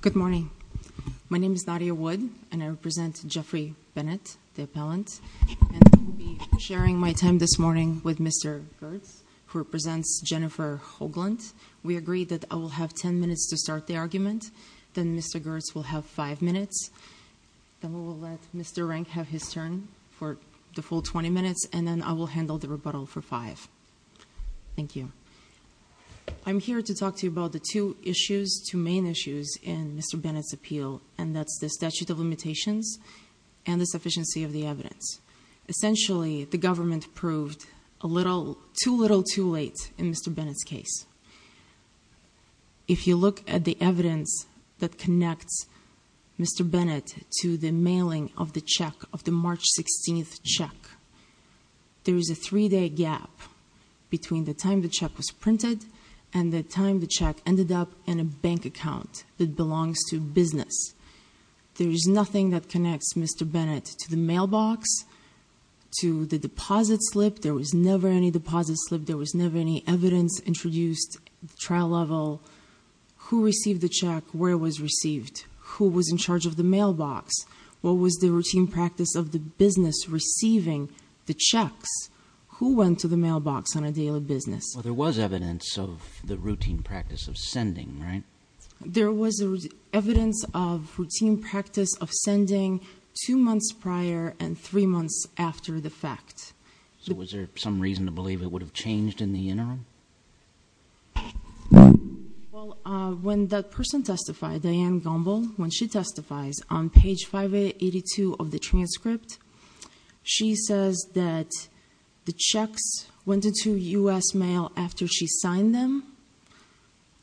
Good morning. My name is Nadia Wood, and I represent Jeffrey Bennett, the appellant. And I will be sharing my time this morning with Mr. Girtz, who represents Jennifer Hoagland. We agreed that I will have ten minutes to start the argument. Then Mr. Girtz will have five minutes. Then we will let Mr. Rank have his turn for the full 20 minutes, and then I will handle the rebuttal for five. Thank you. I'm here to talk to you about the two issues, two main issues, in Mr. Bennett's appeal, and that's the statute of limitations and the sufficiency of the evidence. Essentially, the government proved a little too little too late in Mr. Bennett's case. If you look at the evidence that connects Mr. Bennett to the mailing of the check, of the March 16th check, there is a three-day gap between the time the check was printed and the time the check ended up in a bank account that belongs to business. There is nothing that connects Mr. Bennett to the mailbox, to the deposit slip. There was never any deposit slip. There was never any evidence introduced at the trial level. Who received the check? Where was it received? Who was in charge of the mailbox? What was the routine practice of the business receiving the checks? Who went to the mailbox on a daily business? Well, there was evidence of the routine practice of sending, right? There was evidence of routine practice of sending two months prior and three months after the fact. So was there some reason to believe it would have changed in the interim? Well, when that person testified, Diane Gumbel, when she testifies on page 582 of the transcript, she says that the checks went into U.S. mail after she signed them.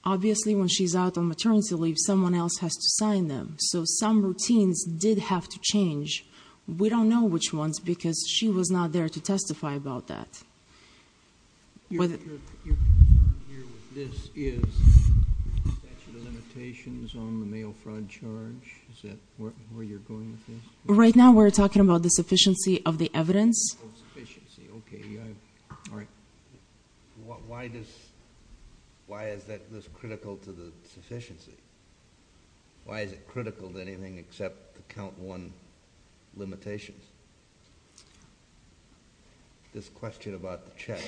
Obviously, when she's out on maternity leave, someone else has to sign them. So some routines did have to change. We don't know which ones because she was not there to testify about that. This is statute of limitations on the mail fraud charge. Is that where you're going with this? Right now, we're talking about the sufficiency of the evidence. Oh, sufficiency. Okay. All right. Why is this critical to the sufficiency? Why is it critical to anything except the count one limitations? This question about the check.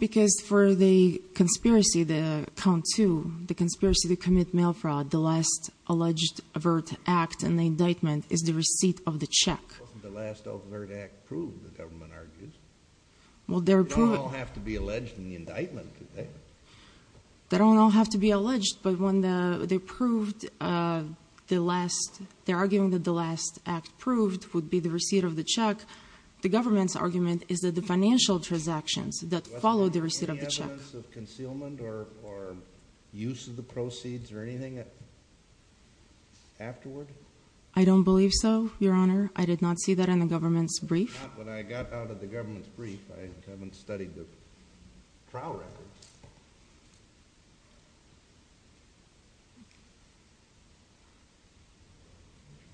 Because for the conspiracy, the count two, the conspiracy to commit mail fraud, the last alleged overt act and the indictment is the receipt of the check. The last overt act proved, the government argues. They don't all have to be alleged in the indictment, do they? They don't all have to be alleged, but when they proved the last, they're arguing that the last act proved would be the receipt of the check. The government's argument is that the financial transactions that followed the receipt of the check. Was there any evidence of concealment or use of the proceeds or anything afterward? I don't believe so, Your Honor. I did not see that in the government's brief. Not when I got out of the government's brief. I haven't studied the trial records.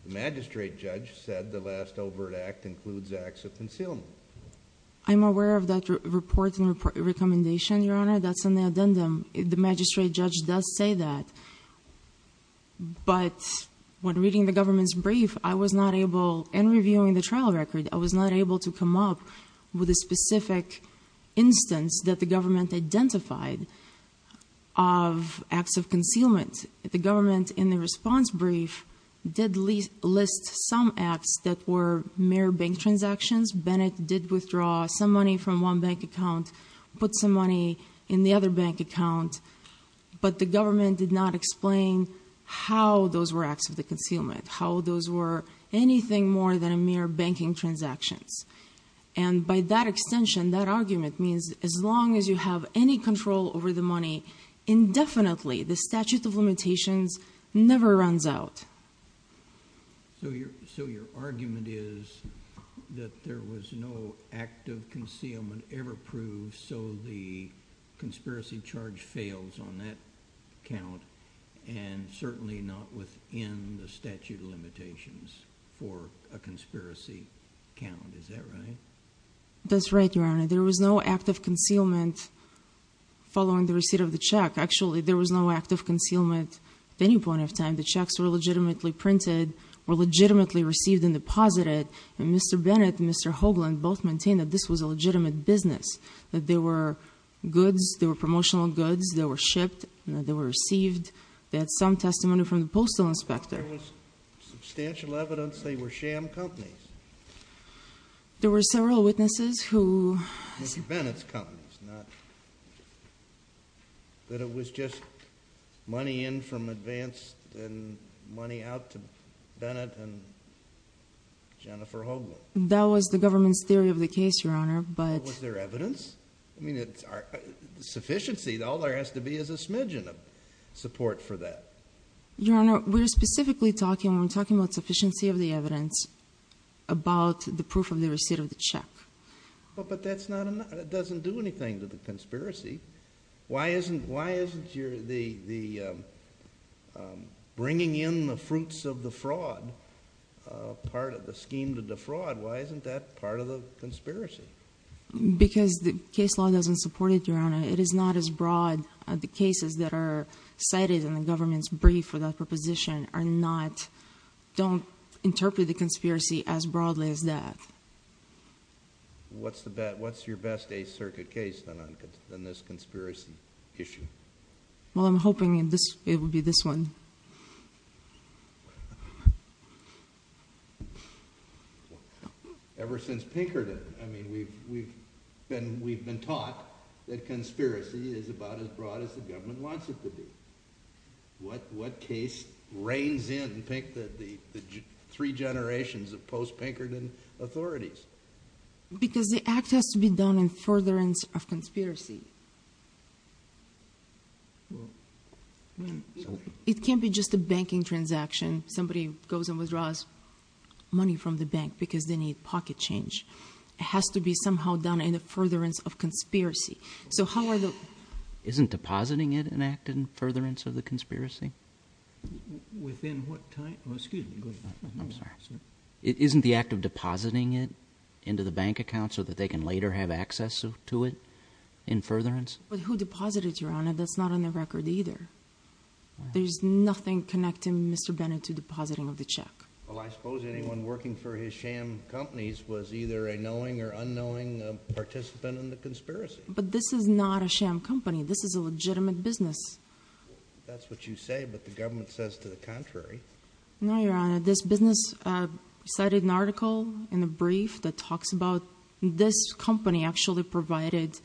The magistrate judge said the last overt act includes acts of concealment. I'm aware of that report and recommendation, Your Honor. That's in the addendum. The magistrate judge does say that, but when reading the government's brief, I was not able, in reviewing the trial record, I was not able to come up with a specific instance that the government identified of acts of concealment. The government, in the response brief, did list some acts that were mere bank transactions. Bennett did withdraw some money from one bank account, put some money in the other bank account, but the government did not explain how those were acts of concealment, how those were anything more than mere banking transactions. By that extension, that argument means as long as you have any control over the money, indefinitely, the statute of limitations never runs out. So your argument is that there was no act of concealment ever proved, so the conspiracy charge fails on that count, and certainly not within the statute of limitations for a conspiracy count. Is that right? That's right, Your Honor. There was no act of concealment following the receipt of the check. Actually, there was no act of concealment at any point of time. The checks were legitimately printed, were legitimately received and deposited, and Mr. Bennett and Mr. Hoagland both maintained that this was a legitimate business, that they were goods, they were promotional goods, they were shipped, they were received. They had some testimony from the postal inspector. There was substantial evidence they were sham companies. There were several witnesses who... Mr. Bennett's companies, not... that it was just money in from advance and money out to Bennett and Jennifer Hoagland. That was the government's theory of the case, Your Honor, but... Was there evidence? I mean, sufficiency, all there has to be is a smidgen of support for that. Your Honor, we're specifically talking, when we're talking about sufficiency of the evidence, about the proof of the receipt of the check. But that doesn't do anything to the conspiracy. Why isn't the bringing in the fruits of the fraud part of the scheme to defraud, why isn't that part of the conspiracy? Because the case law doesn't support it, Your Honor. It is not as broad. The cases that are cited in the government's brief for that proposition are not... What's your best Eighth Circuit case on this conspiracy issue? Well, I'm hoping it will be this one. Ever since Pinkerton, I mean, we've been taught that conspiracy is about as broad as the government wants it to be. What case reigns in the three generations of post-Pinkerton authorities? Because the act has to be done in furtherance of conspiracy. It can't be just a banking transaction. Somebody goes and withdraws money from the bank because they need pocket change. It has to be somehow done in the furtherance of conspiracy. So how are the... Isn't depositing it an act in furtherance of the conspiracy? Within what time? Oh, excuse me. I'm sorry. Isn't the act of depositing it into the bank account so that they can later have access to it in furtherance? But who deposited, Your Honor? That's not on the record either. There's nothing connecting Mr. Bennett to depositing of the check. Well, I suppose anyone working for his sham companies was either a knowing or unknowing participant in the conspiracy. But this is not a sham company. This is a legitimate business. That's what you say, but the government says to the contrary. No, Your Honor. This business cited an article in a brief that talks about this company actually provided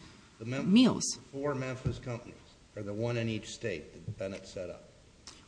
meals. The four Memphis companies or the one in each state that Bennett set up.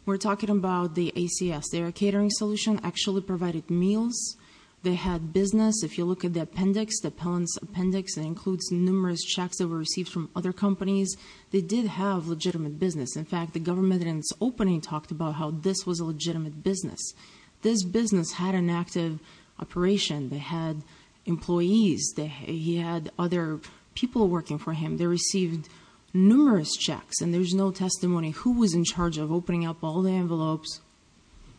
We're talking about the ACS. Their catering solution actually provided meals. They had business. If you look at the appendix, the appellant's appendix, it includes numerous checks that were received from other companies. They did have legitimate business. In fact, the government in its opening talked about how this was a legitimate business. This business had an active operation. They had employees. He had other people working for him. They received numerous checks, and there's no testimony. Who was in charge of opening up all the envelopes?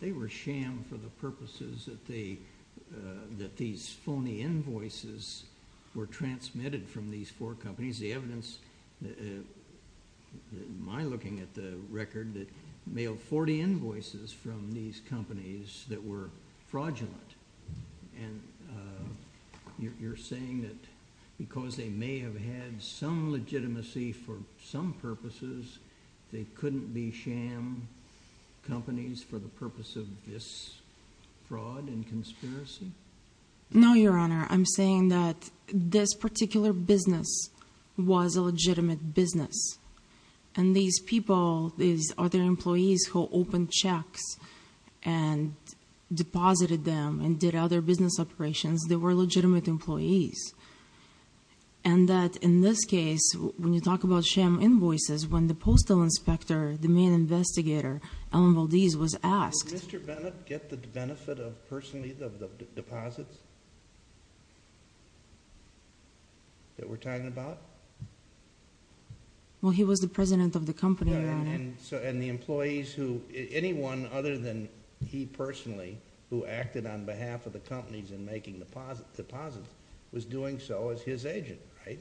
They were sham for the purposes that these phony invoices were transmitted from these four companies. The evidence, my looking at the record, that mailed 40 invoices from these companies that were fraudulent. And you're saying that because they may have had some legitimacy for some purposes, they couldn't be sham companies for the purpose of this fraud and conspiracy? No, Your Honor. I'm saying that this particular business was a legitimate business. And these people, these other employees who opened checks and deposited them and did other business operations, they were legitimate employees. And that in this case, when you talk about sham invoices, when the postal inspector, the main investigator, Allen Valdez, was asked. Did Mr. Bennett get the benefit of personally the deposits that we're talking about? Well, he was the president of the company, Your Honor. And the employees who, anyone other than he personally, who acted on behalf of the companies in making deposits, was doing so as his agent, right?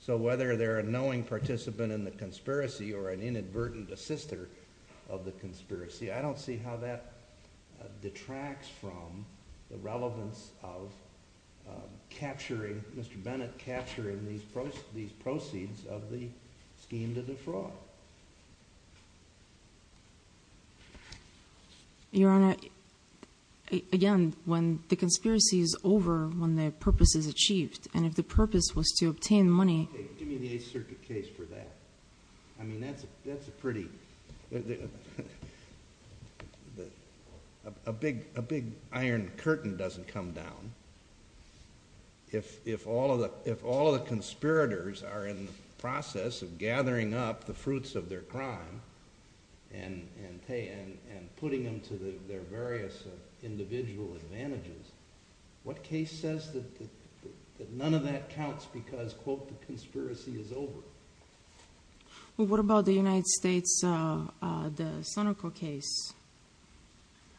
So whether they're a knowing participant in the conspiracy or an inadvertent assister of the conspiracy, I don't see how that detracts from the relevance of capturing, Mr. Bennett capturing these proceeds of the scheme to defraud. Your Honor, again, when the conspiracy is over, when the purpose is achieved, and if the purpose was to obtain money. Give me the Eighth Circuit case for that. I mean, that's a pretty, a big iron curtain doesn't come down. If all of the conspirators are in the process of gathering up the fruits of their crime and putting them to their various individual advantages, what case says that none of that counts because, quote, the conspiracy is over? Well, what about the United States, the Sonico case?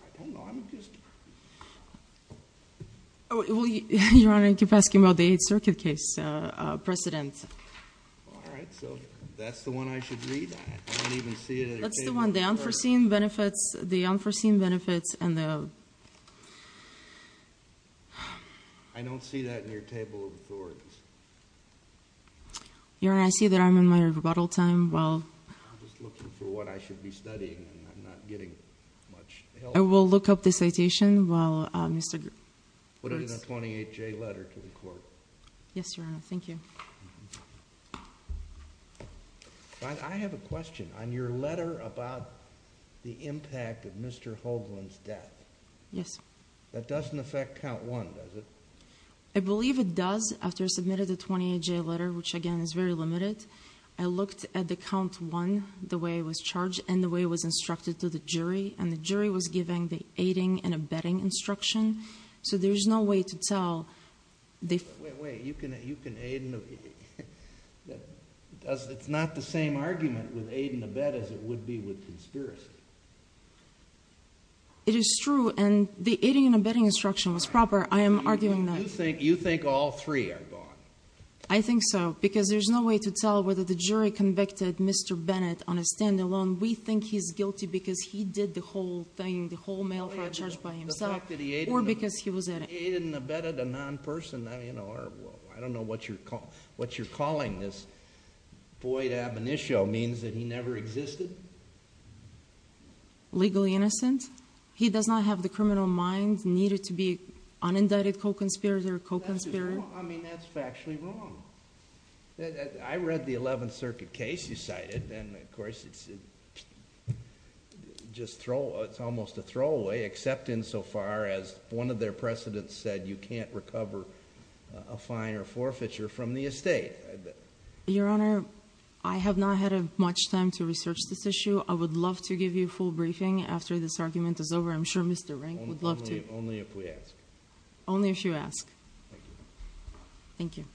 I don't know, I'm just... Your Honor, you keep asking about the Eighth Circuit case precedent. All right, so that's the one I should read? I don't even see it at the table. That's the one, the unforeseen benefits, the unforeseen benefits, and the... I don't see that in your table of authorities. Your Honor, I see that I'm in my rebuttal time while... I'm just looking for what I should be studying, and I'm not getting much help. I will look up the citation while Mr. Gibbs... Put it in a 28-J letter to the court. Yes, Your Honor, thank you. I have a question on your letter about the impact of Mr. Hoagland's death. Yes. That doesn't affect count one, does it? I believe it does, after I submitted the 28-J letter, which, again, is very limited. I looked at the count one, the way it was charged, and the way it was instructed to the jury, and the jury was giving the aiding and abetting instruction, so there's no way to tell... Wait, wait, you can aid and abet. It's not the same argument with aid and abet as it would be with conspiracy. It is true, and the aiding and abetting instruction was proper. I am arguing that. You think all three are gone? I think so, because there's no way to tell whether the jury convicted Mr. Bennett on a stand-alone. We think he's guilty because he did the whole thing, the whole mail fraud charge by himself, or because he was aiding. He didn't abet a non-person. I don't know what you're calling this. Void ab initio means that he never existed? Legally innocent? He does not have the criminal mind needed to be unindicted co-conspirator, co-conspirator? I mean, that's factually wrong. I read the 11th Circuit case you cited, and, of course, it's almost a throwaway, except insofar as one of their precedents said you can't recover a fine or forfeiture from the estate. Your Honor, I have not had much time to research this issue. I would love to give you a full briefing after this argument is over. I'm sure Mr. Rank would love to. Only if we ask. Only if you ask. Thank you. Thank you.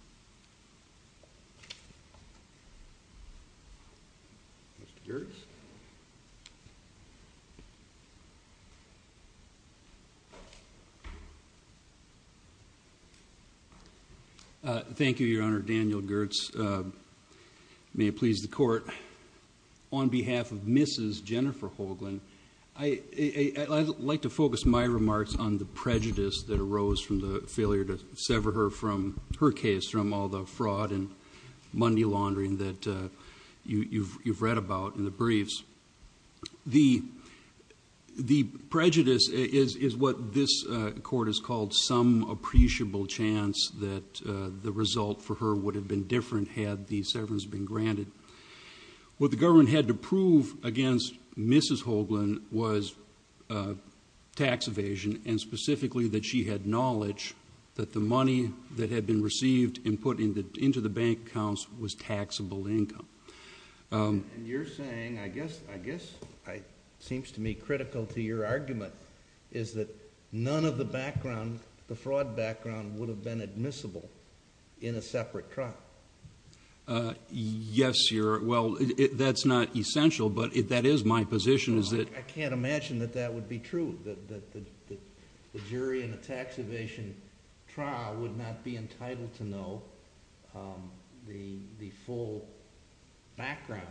Mr. Girtz? Thank you, Your Honor. Daniel Girtz. May it please the Court. On behalf of Mrs. Jennifer Hoagland, I'd like to focus my remarks on the prejudice that arose from the failure to sever her from her case from all the fraud and money laundering that you've read about in the briefs. The prejudice is what this Court has called some appreciable chance that the result for her would have been different had the severance been granted. What the government had to prove against Mrs. Hoagland was tax evasion, and specifically that she had knowledge that the money that had been received and put into the bank accounts was taxable income. And you're saying, I guess it seems to me critical to your argument, is that none of the background, the fraud background, would have been admissible in a separate trial. Yes, Your Honor. Well, that's not essential, but that is my position is that I can't imagine that that would be true, that the jury in a tax evasion trial would not be entitled to know the full background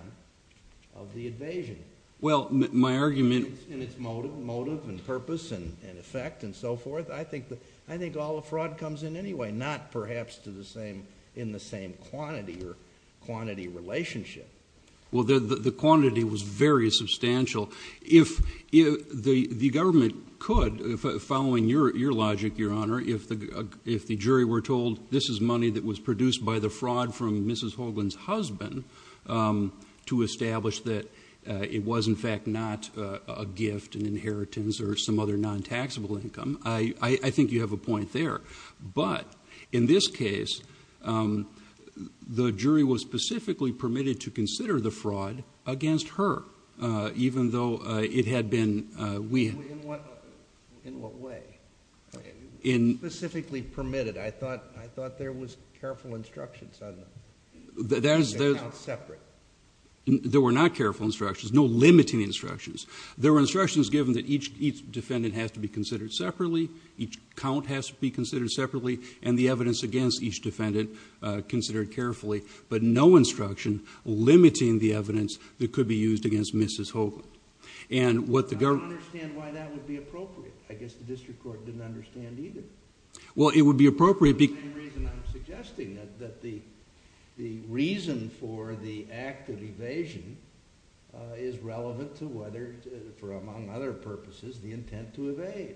of the evasion. Well, my argument motive and purpose and effect and so forth, I think all the fraud comes in anyway, not perhaps in the same quantity or quantity relationship. Well, the quantity was very substantial. If the government could, following your logic, Your Honor, if the jury were told this is money that was produced by the fraud from Mrs. Hoagland's husband to establish that it was, in fact, not a gift, an inheritance, or some other non-taxable income, I think you have a point there. But in this case, the jury was specifically permitted to consider the fraud against her, even though it had been, we had... In what way? Specifically permitted. I thought there was careful instructions on it. They were not separate. There were not careful instructions, no limiting instructions. There were instructions given that each defendant has to be considered separately, each count has to be considered separately, and the evidence against each defendant considered carefully, but no instruction limiting the evidence that could be used against Mrs. Hoagland. I don't understand why that would be appropriate. I guess the district court didn't understand either. Well, it would be appropriate because... The main reason I'm suggesting that the reason for the act of evasion is relevant to whether, for among other purposes, the intent to evade.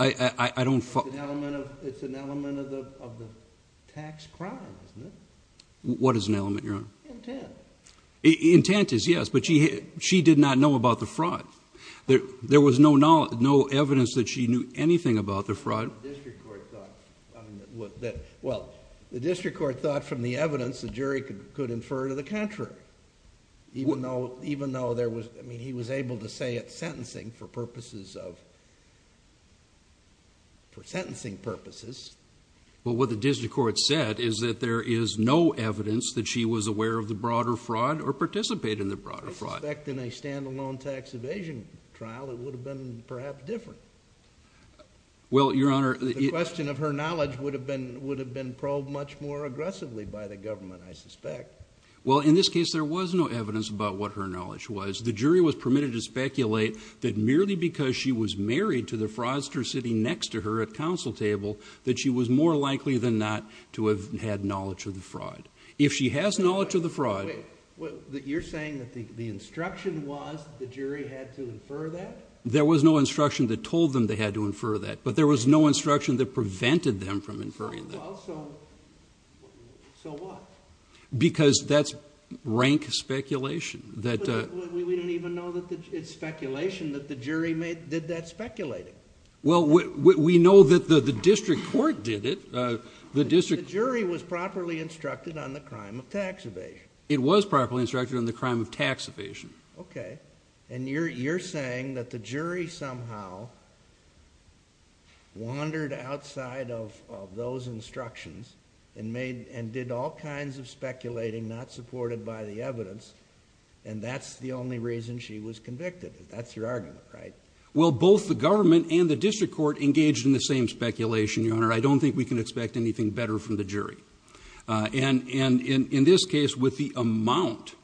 I don't... It's an element of the tax crime, isn't it? What is an element, Your Honor? Intent. Intent is, yes, but she did not know about the fraud. There was no evidence that she knew anything about the fraud. Well, the district court thought from the evidence the jury could infer to the contrary, even though there was... I mean, he was able to say it's sentencing for purposes of... For sentencing purposes. Well, what the district court said is that there is no evidence that she was aware of the broader fraud or participated in the broader fraud. I suspect in a stand-alone tax evasion trial it would have been perhaps different. Well, Your Honor... The question of her knowledge would have been probed much more aggressively by the government, I suspect. Well, in this case there was no evidence about what her knowledge was. The jury was permitted to speculate that merely because she was married to the fraudster sitting next to her at council table that she was more likely than not to have had knowledge of the fraud. If she has knowledge of the fraud... Wait, you're saying that the instruction was the jury had to infer that? There was no instruction that told them they had to infer that, but there was no instruction that prevented them from inferring that. Well, so what? Because that's rank speculation. We don't even know that it's speculation that the jury did that speculating. Well, we know that the district court did it. The jury was properly instructed on the crime of tax evasion. It was properly instructed on the crime of tax evasion. Okay. And you're saying that the jury somehow wandered outside of those instructions and did all kinds of speculating not supported by the evidence, and that's the only reason she was convicted. That's your argument, right? I don't think we can expect anything better from the jury. And in this case, with the amount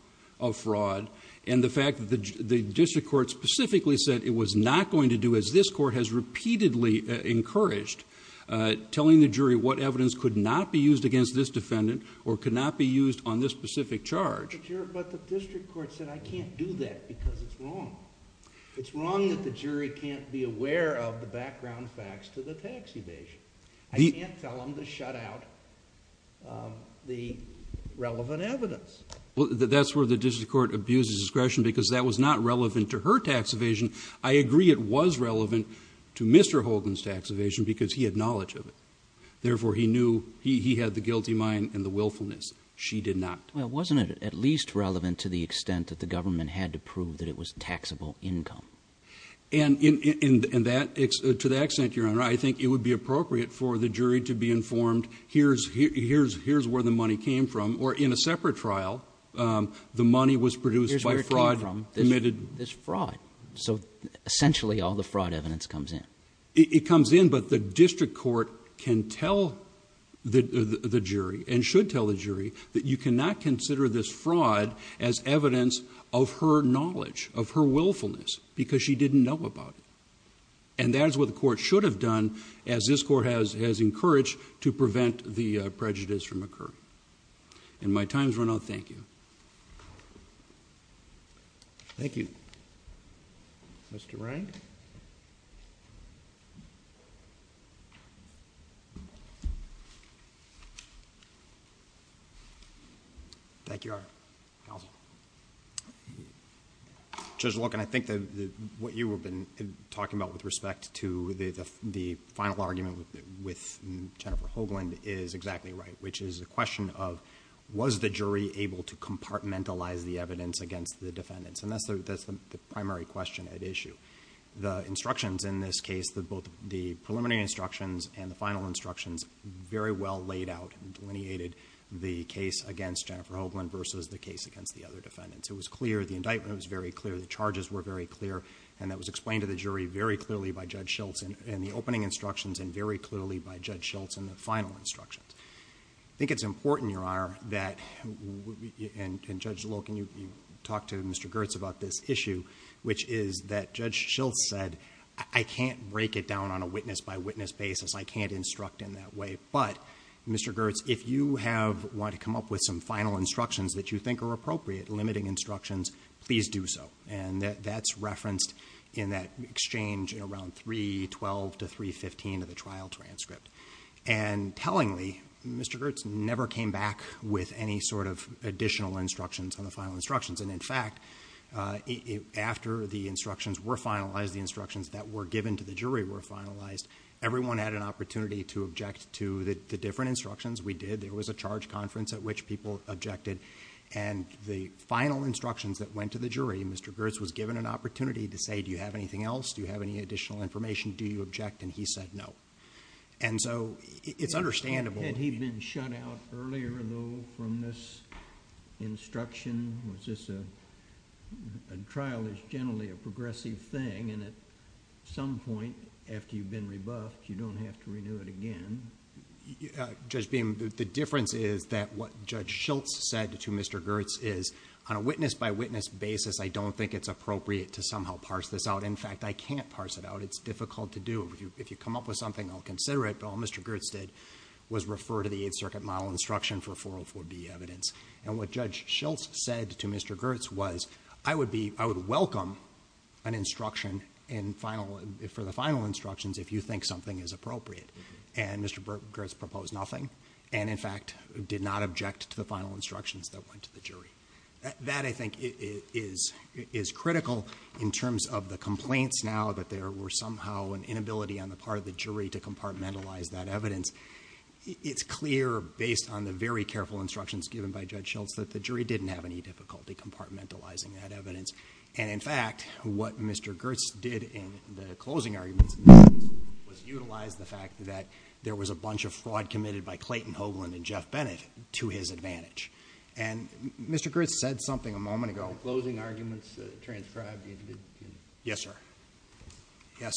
of fraud and the fact that the district court specifically said it was not going to do as this court has repeatedly encouraged telling the jury what evidence could not be used against this defendant or could not be used on this specific charge. But the district court said, I can't do that because it's wrong. It's wrong that the jury can't be aware of the background facts to the tax evasion. I can't tell them to shut out the relevant evidence. Well, that's where the district court abuses discretion because that was not relevant to her tax evasion. I agree it was relevant to Mr. Hogan's tax evasion because he had knowledge of it. Therefore, he knew he had the guilty mind and the willfulness. She did not. Well, wasn't it at least relevant to the extent that the government had to prove that it was taxable income? And to that extent, Your Honor, I think it would be appropriate for the jury to be informed, here's where the money came from, or in a separate trial, the money was produced by fraud. Here's where it came from, this fraud. So essentially all the fraud evidence comes in. It comes in, but the district court can tell the jury and should tell the jury that you cannot consider this fraud as evidence of her knowledge, of her willfulness, because she didn't know about it. And that is what the court should have done, as this court has encouraged, to prevent the prejudice from occurring. And my time has run out. Thank you. Thank you. Mr. Wrang. Thank you, Your Honor. Counsel. Judge Loken, I think that what you have been talking about with respect to the final argument with Jennifer Hoagland is exactly right, which is the question of, was the jury able to compartmentalize the evidence against the defendants? And that's the primary question at issue. The instructions in this case, both the preliminary instructions and the final instructions, very well laid out and delineated the case against Jennifer Hoagland versus the case against the other defendants. It was clear, the indictment was very clear, the charges were very clear, and that was explained to the jury very clearly by Judge Schultz in the opening instructions and very clearly by Judge Schultz in the final instructions. I think it's important, Your Honor, that, and Judge Loken, you talked to Mr. Girtz about this issue, which is that Judge Schultz said, I can't break it down on a witness-by-witness basis. I can't instruct in that way. But, Mr. Girtz, if you want to come up with some final instructions that you think are appropriate, limiting instructions, please do so. And that's referenced in that exchange in around 312 to 315 of the trial transcript. And tellingly, Mr. Girtz never came back with any sort of additional instructions on the final instructions. And, in fact, after the instructions were finalized, the instructions that were given to the jury were finalized, everyone had an opportunity to object to the different instructions. We did. There was a charge conference at which people objected. And the final instructions that went to the jury, Mr. Girtz was given an opportunity to say, do you have anything else? Do you have any additional information? Do you object? And he said no. And so, it's understandable. Had he been shut out earlier, though, from this instruction? Was this a, a trial is generally a progressive thing, and at some point, after you've been rebuffed, you don't have to renew it again. Judge Beam, the difference is that what Judge Schiltz said to Mr. Girtz is, on a witness-by-witness basis, I don't think it's appropriate to somehow parse this out. In fact, I can't parse it out. It's difficult to do. If you, if you come up with something, I'll consider it. But all Mr. Girtz did was refer to the Eighth Circuit model instruction for 404B evidence. And what Judge Schiltz said to Mr. Girtz was, I would be, I would welcome an instruction in final, for the final instructions if you think something is appropriate. And Mr. Girtz proposed nothing. And, in fact, did not object to the final instructions that went to the jury. That, I think, is, is critical in terms of the complaints now, that there were somehow an inability on the part of the jury to compartmentalize that evidence. It's clear, based on the very careful instructions given by Judge Schiltz, that the jury didn't have any difficulty compartmentalizing that evidence. And, in fact, what Mr. Girtz did in the closing arguments was utilize the fact that there was a bunch of fraud committed by Clayton Hoagland and Jeff Bennett to his advantage. And Mr. Girtz said something a moment ago. Closing arguments transcribed the individual. Yes, sir. Yes.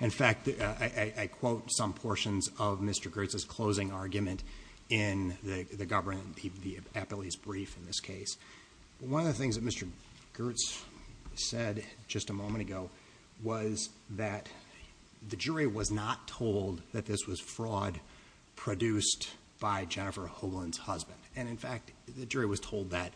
In fact, I quote some portions of Mr. Girtz's closing argument in the government, the appellee's brief in this case. One of the things that Mr. Girtz said just a moment ago was that the jury was not told that this was fraud produced by Jennifer Hoagland's husband. And, in fact, the jury was told that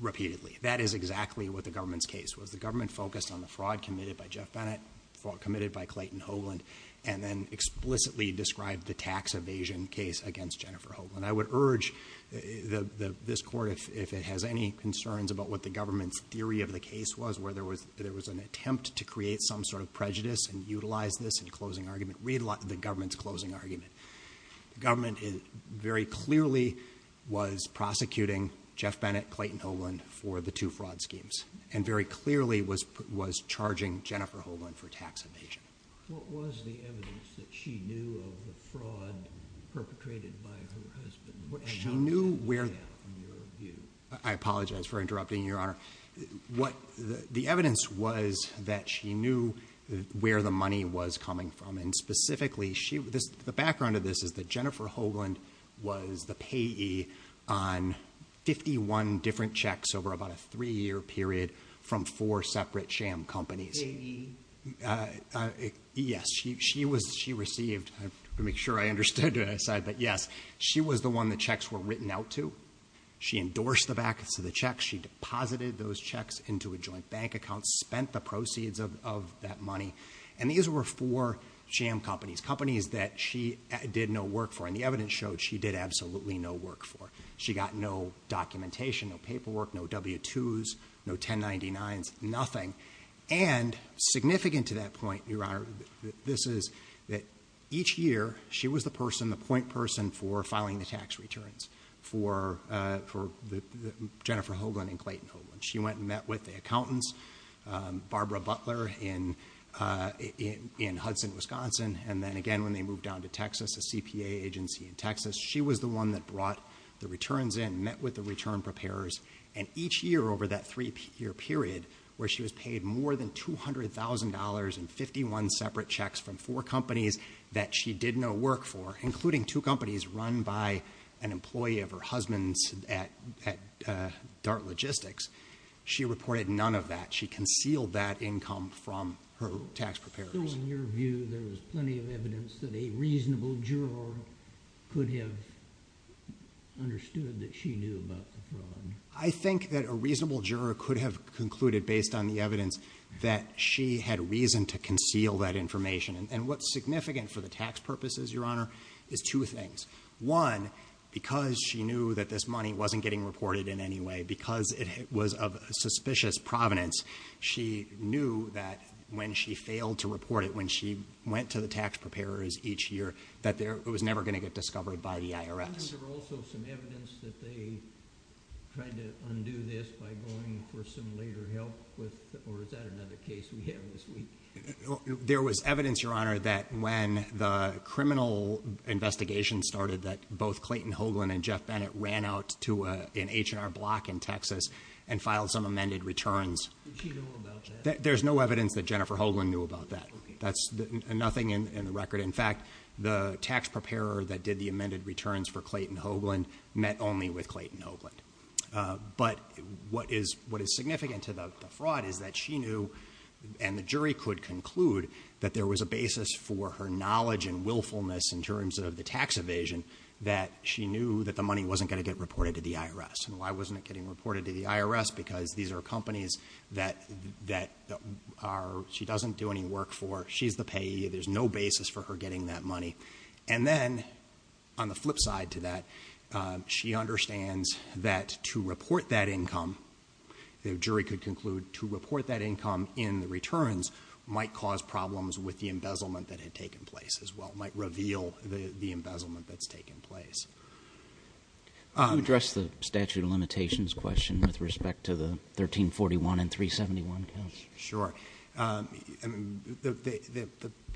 repeatedly. That is exactly what the government's case was. The government focused on the fraud committed by Jeff Bennett, fraud committed by Clayton Hoagland, and then explicitly described the tax evasion case against Jennifer Hoagland. I would urge this Court, if it has any concerns about what the government's theory of the case was, where there was an attempt to create some sort of prejudice and utilize this in closing argument, read the government's closing argument. The government very clearly was prosecuting Jeff Bennett, Clayton Hoagland for the two fraud schemes and very clearly was charging Jennifer Hoagland for tax evasion. What was the evidence that she knew of the fraud perpetrated by her husband? I apologize for interrupting, Your Honor. The evidence was that she knew where the money was coming from, and specifically the background of this is that Jennifer Hoagland was the payee on 51 different checks over about a three-year period from four separate sham companies. Payee? Yes. She received, to make sure I understood what I said, but yes. She was the one the checks were written out to. She endorsed the back of the checks. She deposited those checks into a joint bank account, spent the proceeds of that money. And these were four sham companies, companies that she did no work for, and the evidence showed she did absolutely no work for. She got no documentation, no paperwork, no W-2s, no 1099s, nothing. And significant to that point, Your Honor, this is that each year she was the person, the point person for filing the tax returns for Jennifer Hoagland and Clayton Hoagland. She went and met with the accountants, Barbara Butler in Hudson, Wisconsin, and then again when they moved down to Texas, a CPA agency in Texas, she was the one that brought the returns in, met with the return preparers, and each year over that three-year period where she was paid more than $200,000 and 51 separate checks from four companies that she did no work for, including two companies run by an employee of her husband's at Dart Logistics, she reported none of that. She concealed that income from her tax preparers. So in your view, there was plenty of evidence that a reasonable juror could have understood that she knew about the fraud? I think that a reasonable juror could have concluded based on the evidence that she had reason to conceal that information. And what's significant for the tax purposes, Your Honor, is two things. One, because she knew that this money wasn't getting reported in any way, because it was of suspicious provenance, she knew that when she failed to report it, when she went to the tax preparers each year, that it was never going to get discovered by the IRS. Was there also some evidence that they tried to undo this by going for some later help or is that another case we have this week? There was evidence, Your Honor, that when the criminal investigation started that both Clayton Hoagland and Jeff Bennett ran out to an H&R block in Texas and filed some amended returns. Did she know about that? There's no evidence that Jennifer Hoagland knew about that. Okay. Nothing in the record. In fact, the tax preparer that did the amended returns for Clayton Hoagland met only with Clayton Hoagland. But what is significant to the fraud is that she knew and the jury could conclude that there was a basis for her knowledge and willfulness in terms of the tax evasion that she knew that the money wasn't going to get reported to the IRS. And why wasn't it getting reported to the IRS? Because these are companies that she doesn't do any work for. She's the payee. There's no basis for her getting that money. And then on the flip side to that, she understands that to report that income, the jury could conclude to report that income in the returns might cause problems with the embezzlement that had taken place as well, might reveal the embezzlement that's taken place. Can you address the statute of limitations question with respect to the 1341 and 371 counts? Sure. The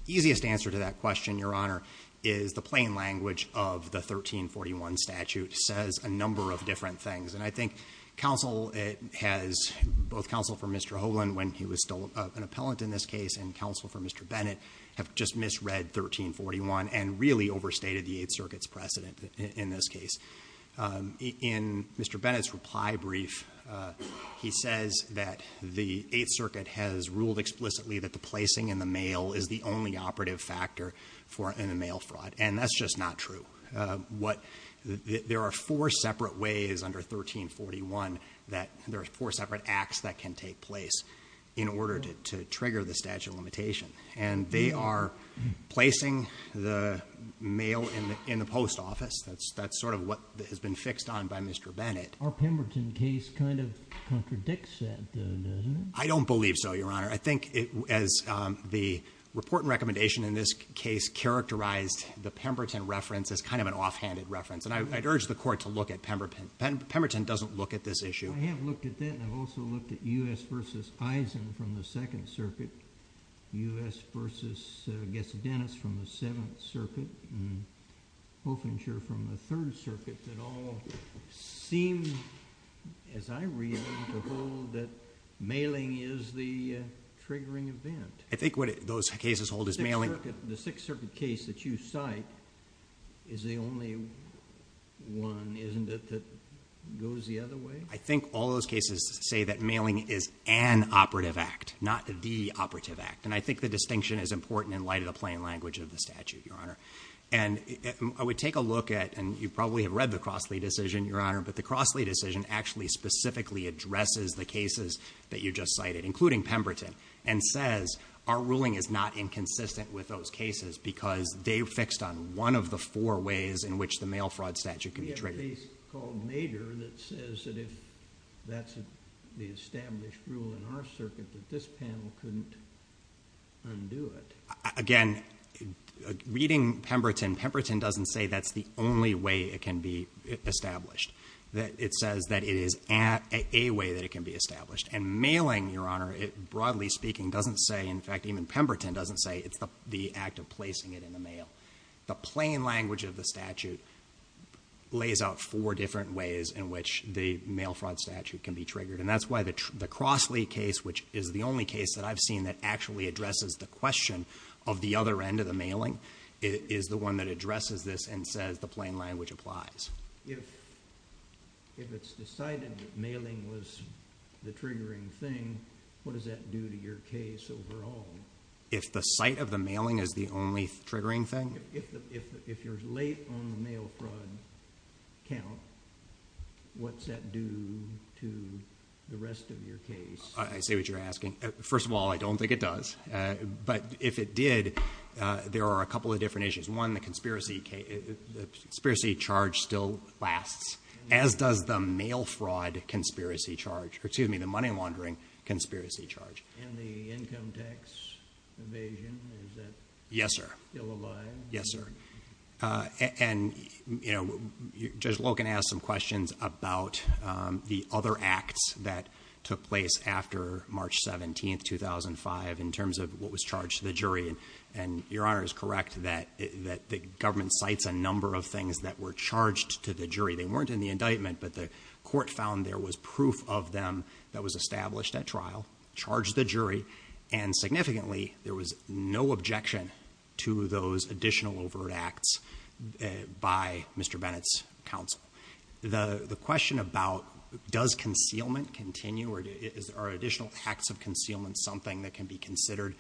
easiest answer to that question, Your Honor, is the plain language of the 1341 statute says a number of different things. And I think counsel has, both counsel for Mr. Hoagland when he was still an appellant in this case and counsel for Mr. Bennett have just misread 1341 and really overstated the Eighth Circuit's precedent in this case. In Mr. Bennett's reply brief, he says that the Eighth Circuit has ruled explicitly that the placing in the mail is the only operative factor in a mail fraud. And that's just not true. There are four separate ways under 1341 that there are four separate acts that can take place in order to trigger the statute of limitation. And they are placing the mail in the post office. That's sort of what has been fixed on by Mr. Bennett. Our Pemberton case kind of contradicts that, doesn't it? I don't believe so, Your Honor. I think as the report and recommendation in this case characterized the Pemberton reference as kind of an offhanded reference. And I'd urge the court to look at Pemberton. Pemberton doesn't look at this issue. I have looked at that and I've also looked at U.S. v. Eisen from the Second Circuit, U.S. v. Gessodennis from the Seventh Circuit, and Hofinger from the Third Circuit that all seem, as I read them, to hold that mailing is the triggering event. I think what those cases hold is mailing. The Sixth Circuit case that you cite is the only one, isn't it, that goes the other way? I think all those cases say that mailing is an operative act, not the operative act. And I think the distinction is important in light of the plain language of the statute, Your Honor. And I would take a look at, and you probably have read the Crossley decision, Your Honor, but the Crossley decision actually specifically addresses the cases that you just cited, including Pemberton, and says our ruling is not inconsistent with those cases because they fixed on one of the four ways in which the mail fraud statute can be triggered. There's a case called Major that says that if that's the established rule in our circuit that this panel couldn't undo it. Again, reading Pemberton, Pemberton doesn't say that's the only way it can be established. It says that it is a way that it can be established. And mailing, Your Honor, broadly speaking, doesn't say, in fact, even Pemberton doesn't say it's the act of placing it in the mail. The plain language of the statute lays out four different ways in which the mail fraud statute can be triggered. And that's why the Crossley case, which is the only case that I've seen that actually addresses the question of the other end of the mailing, is the one that addresses this and says the plain language applies. If it's decided that mailing was the triggering thing, what does that do to your case overall? If the site of the mailing is the only triggering thing? If you're late on the mail fraud count, what's that do to the rest of your case? I see what you're asking. First of all, I don't think it does. But if it did, there are a couple of different issues. One, the conspiracy charge still lasts, as does the mail fraud conspiracy charge. Excuse me, the money laundering conspiracy charge. And the income tax evasion, is that... Yes, sir. ...still alive? Yes, sir. And, you know, Judge Loken asked some questions about the other acts that took place after March 17, 2005, in terms of what was charged to the jury. And Your Honor is correct that the government cites a number of things that were charged to the jury. They weren't in the indictment, but the court found there was proof of them that was established at trial, charged the jury, and significantly, there was no objection to those additional overt acts by Mr. Bennett's counsel. The question about does concealment continue or are additional acts of concealment something that can be considered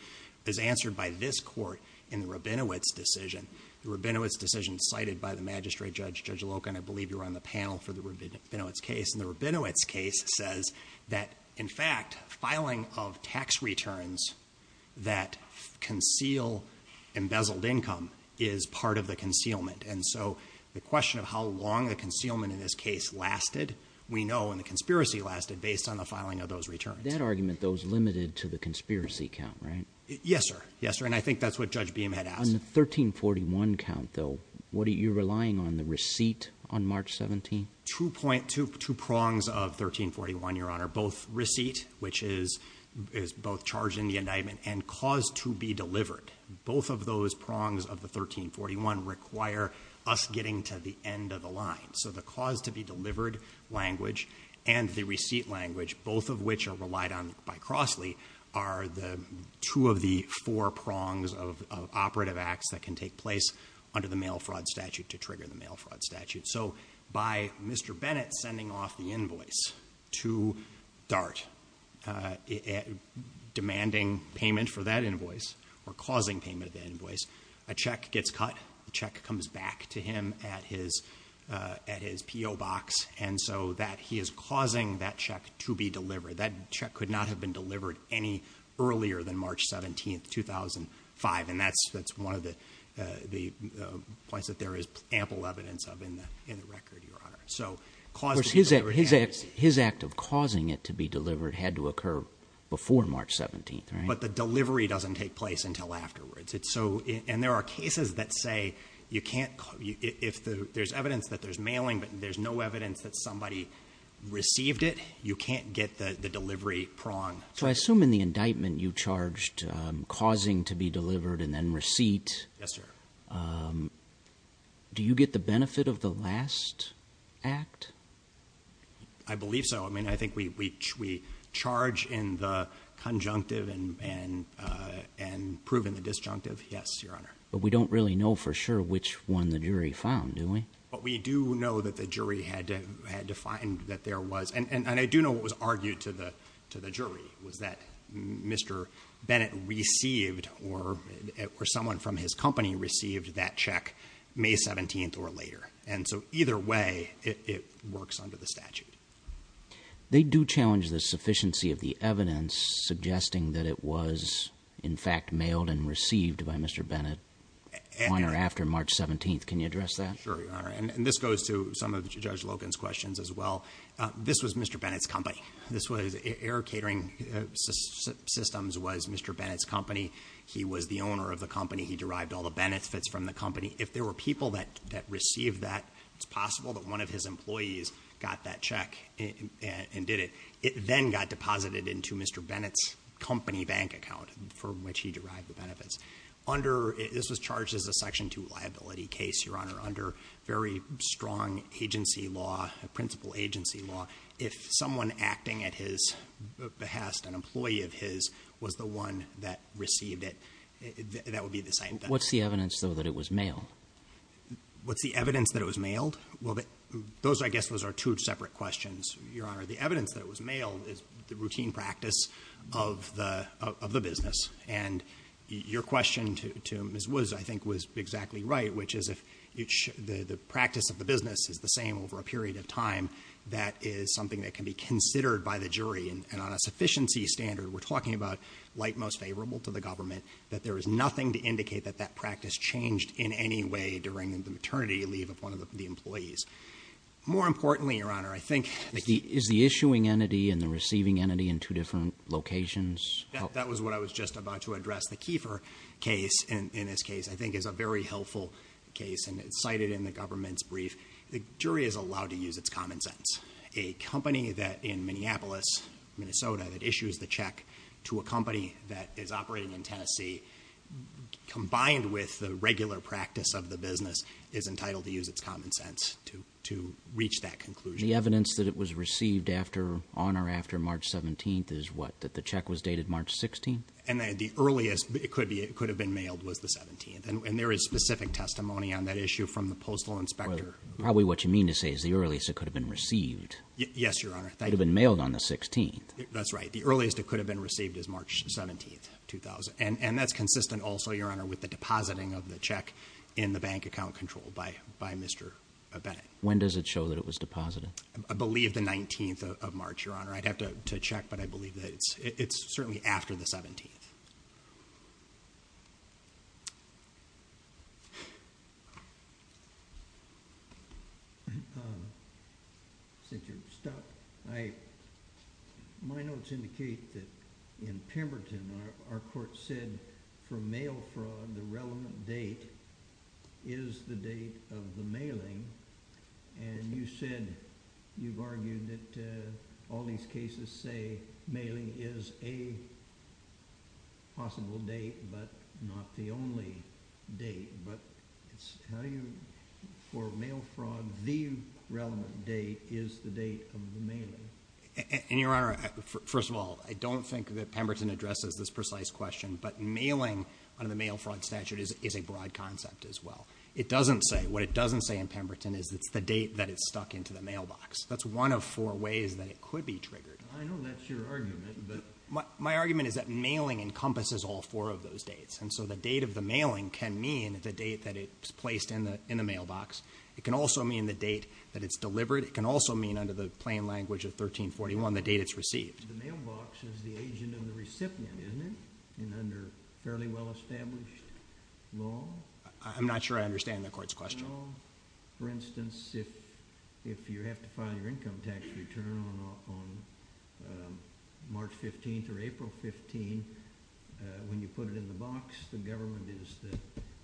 is answered by this court in the Rabinowitz decision. The Rabinowitz decision cited by the magistrate judge, Judge Loken, I believe you were on the panel for the Rabinowitz case, and the Rabinowitz case says that, in fact, filing of tax returns that conceal embezzled income is part of the concealment. And so the question of how long the concealment in this case lasted, we know, and the conspiracy lasted based on the filing of those returns. That argument, though, is limited to the conspiracy count, right? Yes, sir. Yes, sir. And I think that's what Judge Beamhead asked. On the 1341 count, though, what are you relying on, the receipt on March 17? Two prongs of 1341, Your Honor, both receipt, which is both charge in the indictment, and cause to be delivered. Both of those prongs of the 1341 require us getting to the end of the line. So the cause to be delivered language and the receipt language, both of which are relied on by Crossley, are two of the four prongs of operative acts that can take place under the mail fraud statute to trigger the mail fraud statute. So by Mr. Bennett sending off the invoice to DART, demanding payment for that invoice or causing payment of that invoice, a check gets cut, the check comes back to him at his PO box, and so that he is causing that check to be delivered. That check could not have been delivered any earlier than March 17, 2005, and that's one of the points that there is ample evidence of in the record, Your Honor. His act of causing it to be delivered had to occur before March 17, right? But the delivery doesn't take place until afterwards. And there are cases that say if there's evidence that there's mailing but there's no evidence that somebody received it, you can't get the delivery prong. So I assume in the indictment you charged causing to be delivered and then receipt. Yes, sir. Do you get the benefit of the last act? I believe so. I mean, I think we charge in the conjunctive and prove in the disjunctive. Yes, Your Honor. But we don't really know for sure which one the jury found, do we? But we do know that the jury had to find that there was, and I do know what was argued to the jury was that Mr. Bennett received or someone from his company received that check May 17th or later. And so either way, it works under the statute. They do challenge the sufficiency of the evidence suggesting that it was in fact mailed and received by Mr. Bennett on or after March 17th. Can you address that? Sure, Your Honor. And this goes to some of Judge Logan's questions as well. This was Mr. Bennett's company. Air Catering Systems was Mr. Bennett's company. He was the owner of the company. He derived all the benefits from the company. If there were people that received that, it's possible that one of his employees got that check and did it. It then got deposited into Mr. Bennett's company bank account for which he derived the benefits. This was charged as a Section 2 liability case, Your Honor, under very strong agency law, principal agency law. If someone acting at his behest, an employee of his, was the one that received it, that would be the site. What's the evidence, though, that it was mailed? What's the evidence that it was mailed? Well, I guess those are two separate questions, Your Honor. The evidence that it was mailed is the routine practice of the business. And your question to Ms. Woods, I think, was exactly right, which is if the practice of the business is the same over a period of time, that is something that can be considered by the jury. And on a sufficiency standard, we're talking about like most favorable to the government, that there is nothing to indicate that that practice changed in any way during the maternity leave of one of the employees. More importantly, Your Honor, I think... Is the issuing entity and the receiving entity in two different locations? That was what I was just about to address. The Kiefer case, in this case, I think is a very helpful case, and it's cited in the government's brief. The jury is allowed to use its common sense. A company in Minneapolis, Minnesota, that issues the check to a company that is operating in Tennessee, combined with the regular practice of the business, is entitled to use its common sense to reach that conclusion. The evidence that it was received on or after March 17th is what, that the check was dated March 16th? And the earliest it could have been mailed was the 17th. And there is specific testimony on that issue from the postal inspector. Probably what you mean to say is the earliest it could have been received. Yes, Your Honor. It could have been mailed on the 16th. That's right. The earliest it could have been received is March 17th, 2000. And that's consistent also, Your Honor, with the depositing of the check in the bank account control by Mr. Bennett. When does it show that it was deposited? I believe the 19th of March, Your Honor. I'd have to check, but I believe that it's... It's certainly after the 17th. Since you're stuck, my notes indicate that in Pemberton, our court said for mail fraud, the relevant date is the date of the mailing. And you said, you've argued that all these cases say mailing is a possible date, but not the only date. But it's how you... For mail fraud, the relevant date is the date of the mailing. And, Your Honor, first of all, I don't think that Pemberton addresses this precise question, but mailing under the mail fraud statute is a broad concept as well. It doesn't say... What it doesn't say in Pemberton is it's the date that it's stuck into the mailbox. That's one of four ways that it could be triggered. I know that's your argument, but... My argument is that mailing encompasses all four of those dates. And so the date of the mailing can mean the date that it's placed in the mailbox. It can also mean the date that it's delivered. It can also mean, under the plain language of 1341, the date it's received. The mailbox is the agent and the recipient, isn't it? And under fairly well-established law? I'm not sure I understand the court's question. For instance, if you have to file your income tax return on March 15th or April 15th, when you put it in the box, the government is the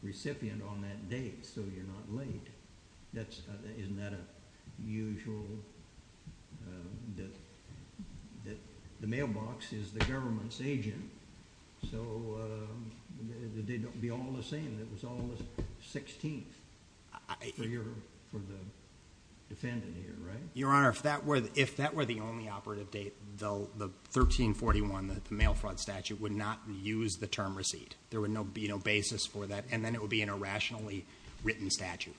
recipient on that date, so you're not late. Isn't that a usual... The mailbox is the government's agent, so they don't be all the same. It was all the 16th for the defendant here, right? Your Honor, if that were the only operative date, the 1341, the mail fraud statute, would not use the term receipt. There would be no basis for that, and then it would be an irrationally written statute.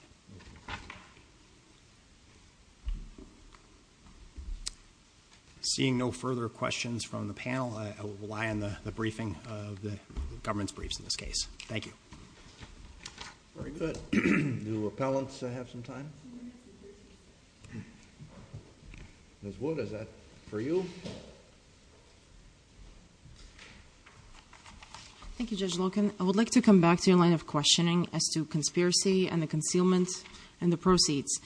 Seeing no further questions from the panel, I will rely on the briefing, the government's briefs in this case. Thank you. Very good. Do appellants have some time? Ms. Wood, is that for you? Thank you, Judge Loken. I would like to come back to your line of questioning as to conspiracy and the concealment and the proceeds.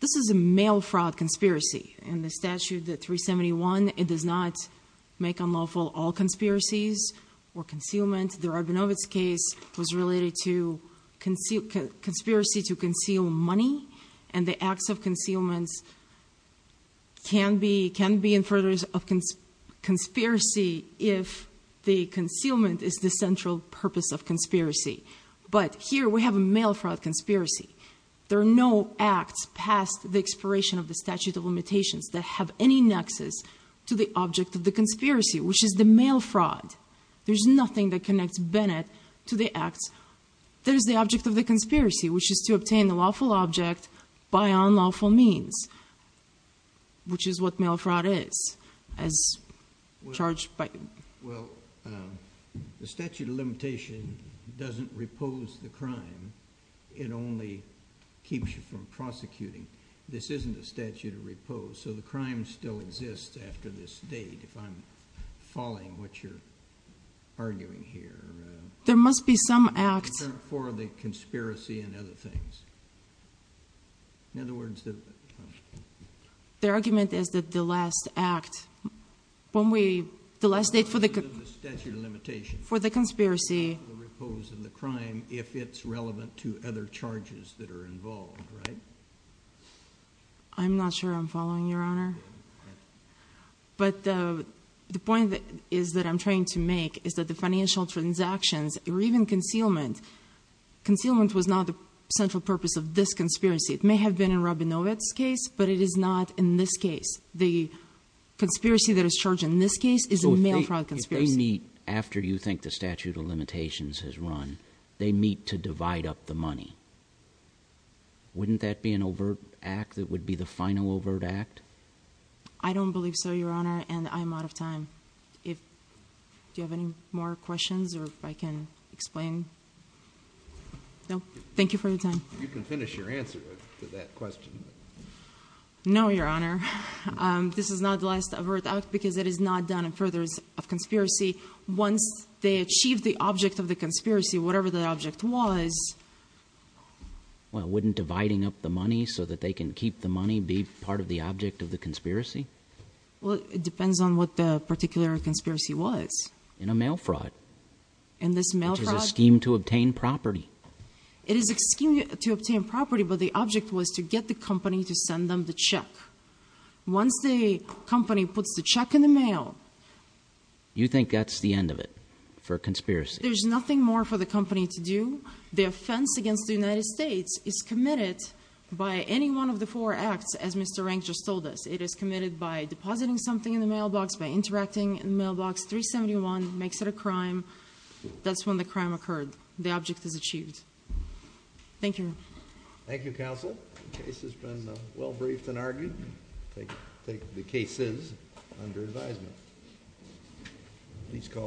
This is a mail fraud conspiracy. In the statute, the 371, it does not make unlawful all conspiracies or concealment. The Radvinovich case was related to conspiracy to conceal money, and the acts of concealment can be in furtherance of conspiracy if the concealment is the central purpose of conspiracy. But here we have a mail fraud conspiracy. There are no acts past the expiration of the statute of limitations that have any nexus to the object of the conspiracy, which is the mail fraud. There's nothing that connects Bennett to the acts. There's the object of the conspiracy, which is to obtain the lawful object by unlawful means, which is what mail fraud is, as charged by... Well, the statute of limitation doesn't repose the crime. It only keeps you from prosecuting. This isn't a statute of repose, so the crime still exists after this date, if I'm following what you're arguing here. There must be some act... For the conspiracy and other things. In other words... The argument is that the last act, when we... the last date for the... The statute of limitation... For the conspiracy... Repose of the crime if it's relevant to other charges that are involved, right? I'm not sure I'm following, Your Honor. But the point that I'm trying to make is that the financial transactions, or even concealment... Concealment was not the central purpose of this conspiracy. It may have been in Rabinovich's case, but it is not in this case. The conspiracy that is charged in this case is a mail fraud conspiracy. So if they meet after you think the statute of limitations has run, they meet to divide up the money, wouldn't that be an overt act that would be the final overt act? I don't believe so, Your Honor, and I'm out of time. Do you have any more questions, or if I can explain? No? Thank you for your time. You can finish your answer to that question. No, Your Honor. This is not the last overt act because it is not done in furtherance of conspiracy. Once they achieve the object of the conspiracy, whatever the object was... Well, wouldn't dividing up the money so that they can keep the money be part of the object of the conspiracy? Well, it depends on what the particular conspiracy was. In a mail fraud. In this mail fraud... Which is a scheme to obtain property. It is a scheme to obtain property, but the object was to get the company to send them the check. Once the company puts the check in the mail... You think that's the end of it for conspiracy? There's nothing more for the company to do. The offense against the United States is committed by any one of the four acts, as Mr. Rank just told us. It is committed by depositing something in the mailbox, by interacting in the mailbox. 371 makes it a crime. That's when the crime occurred. The object is achieved. Thank you, Your Honor. Thank you, Counsel. The case has been well briefed and argued. Take the cases under advisement. Please call the roll.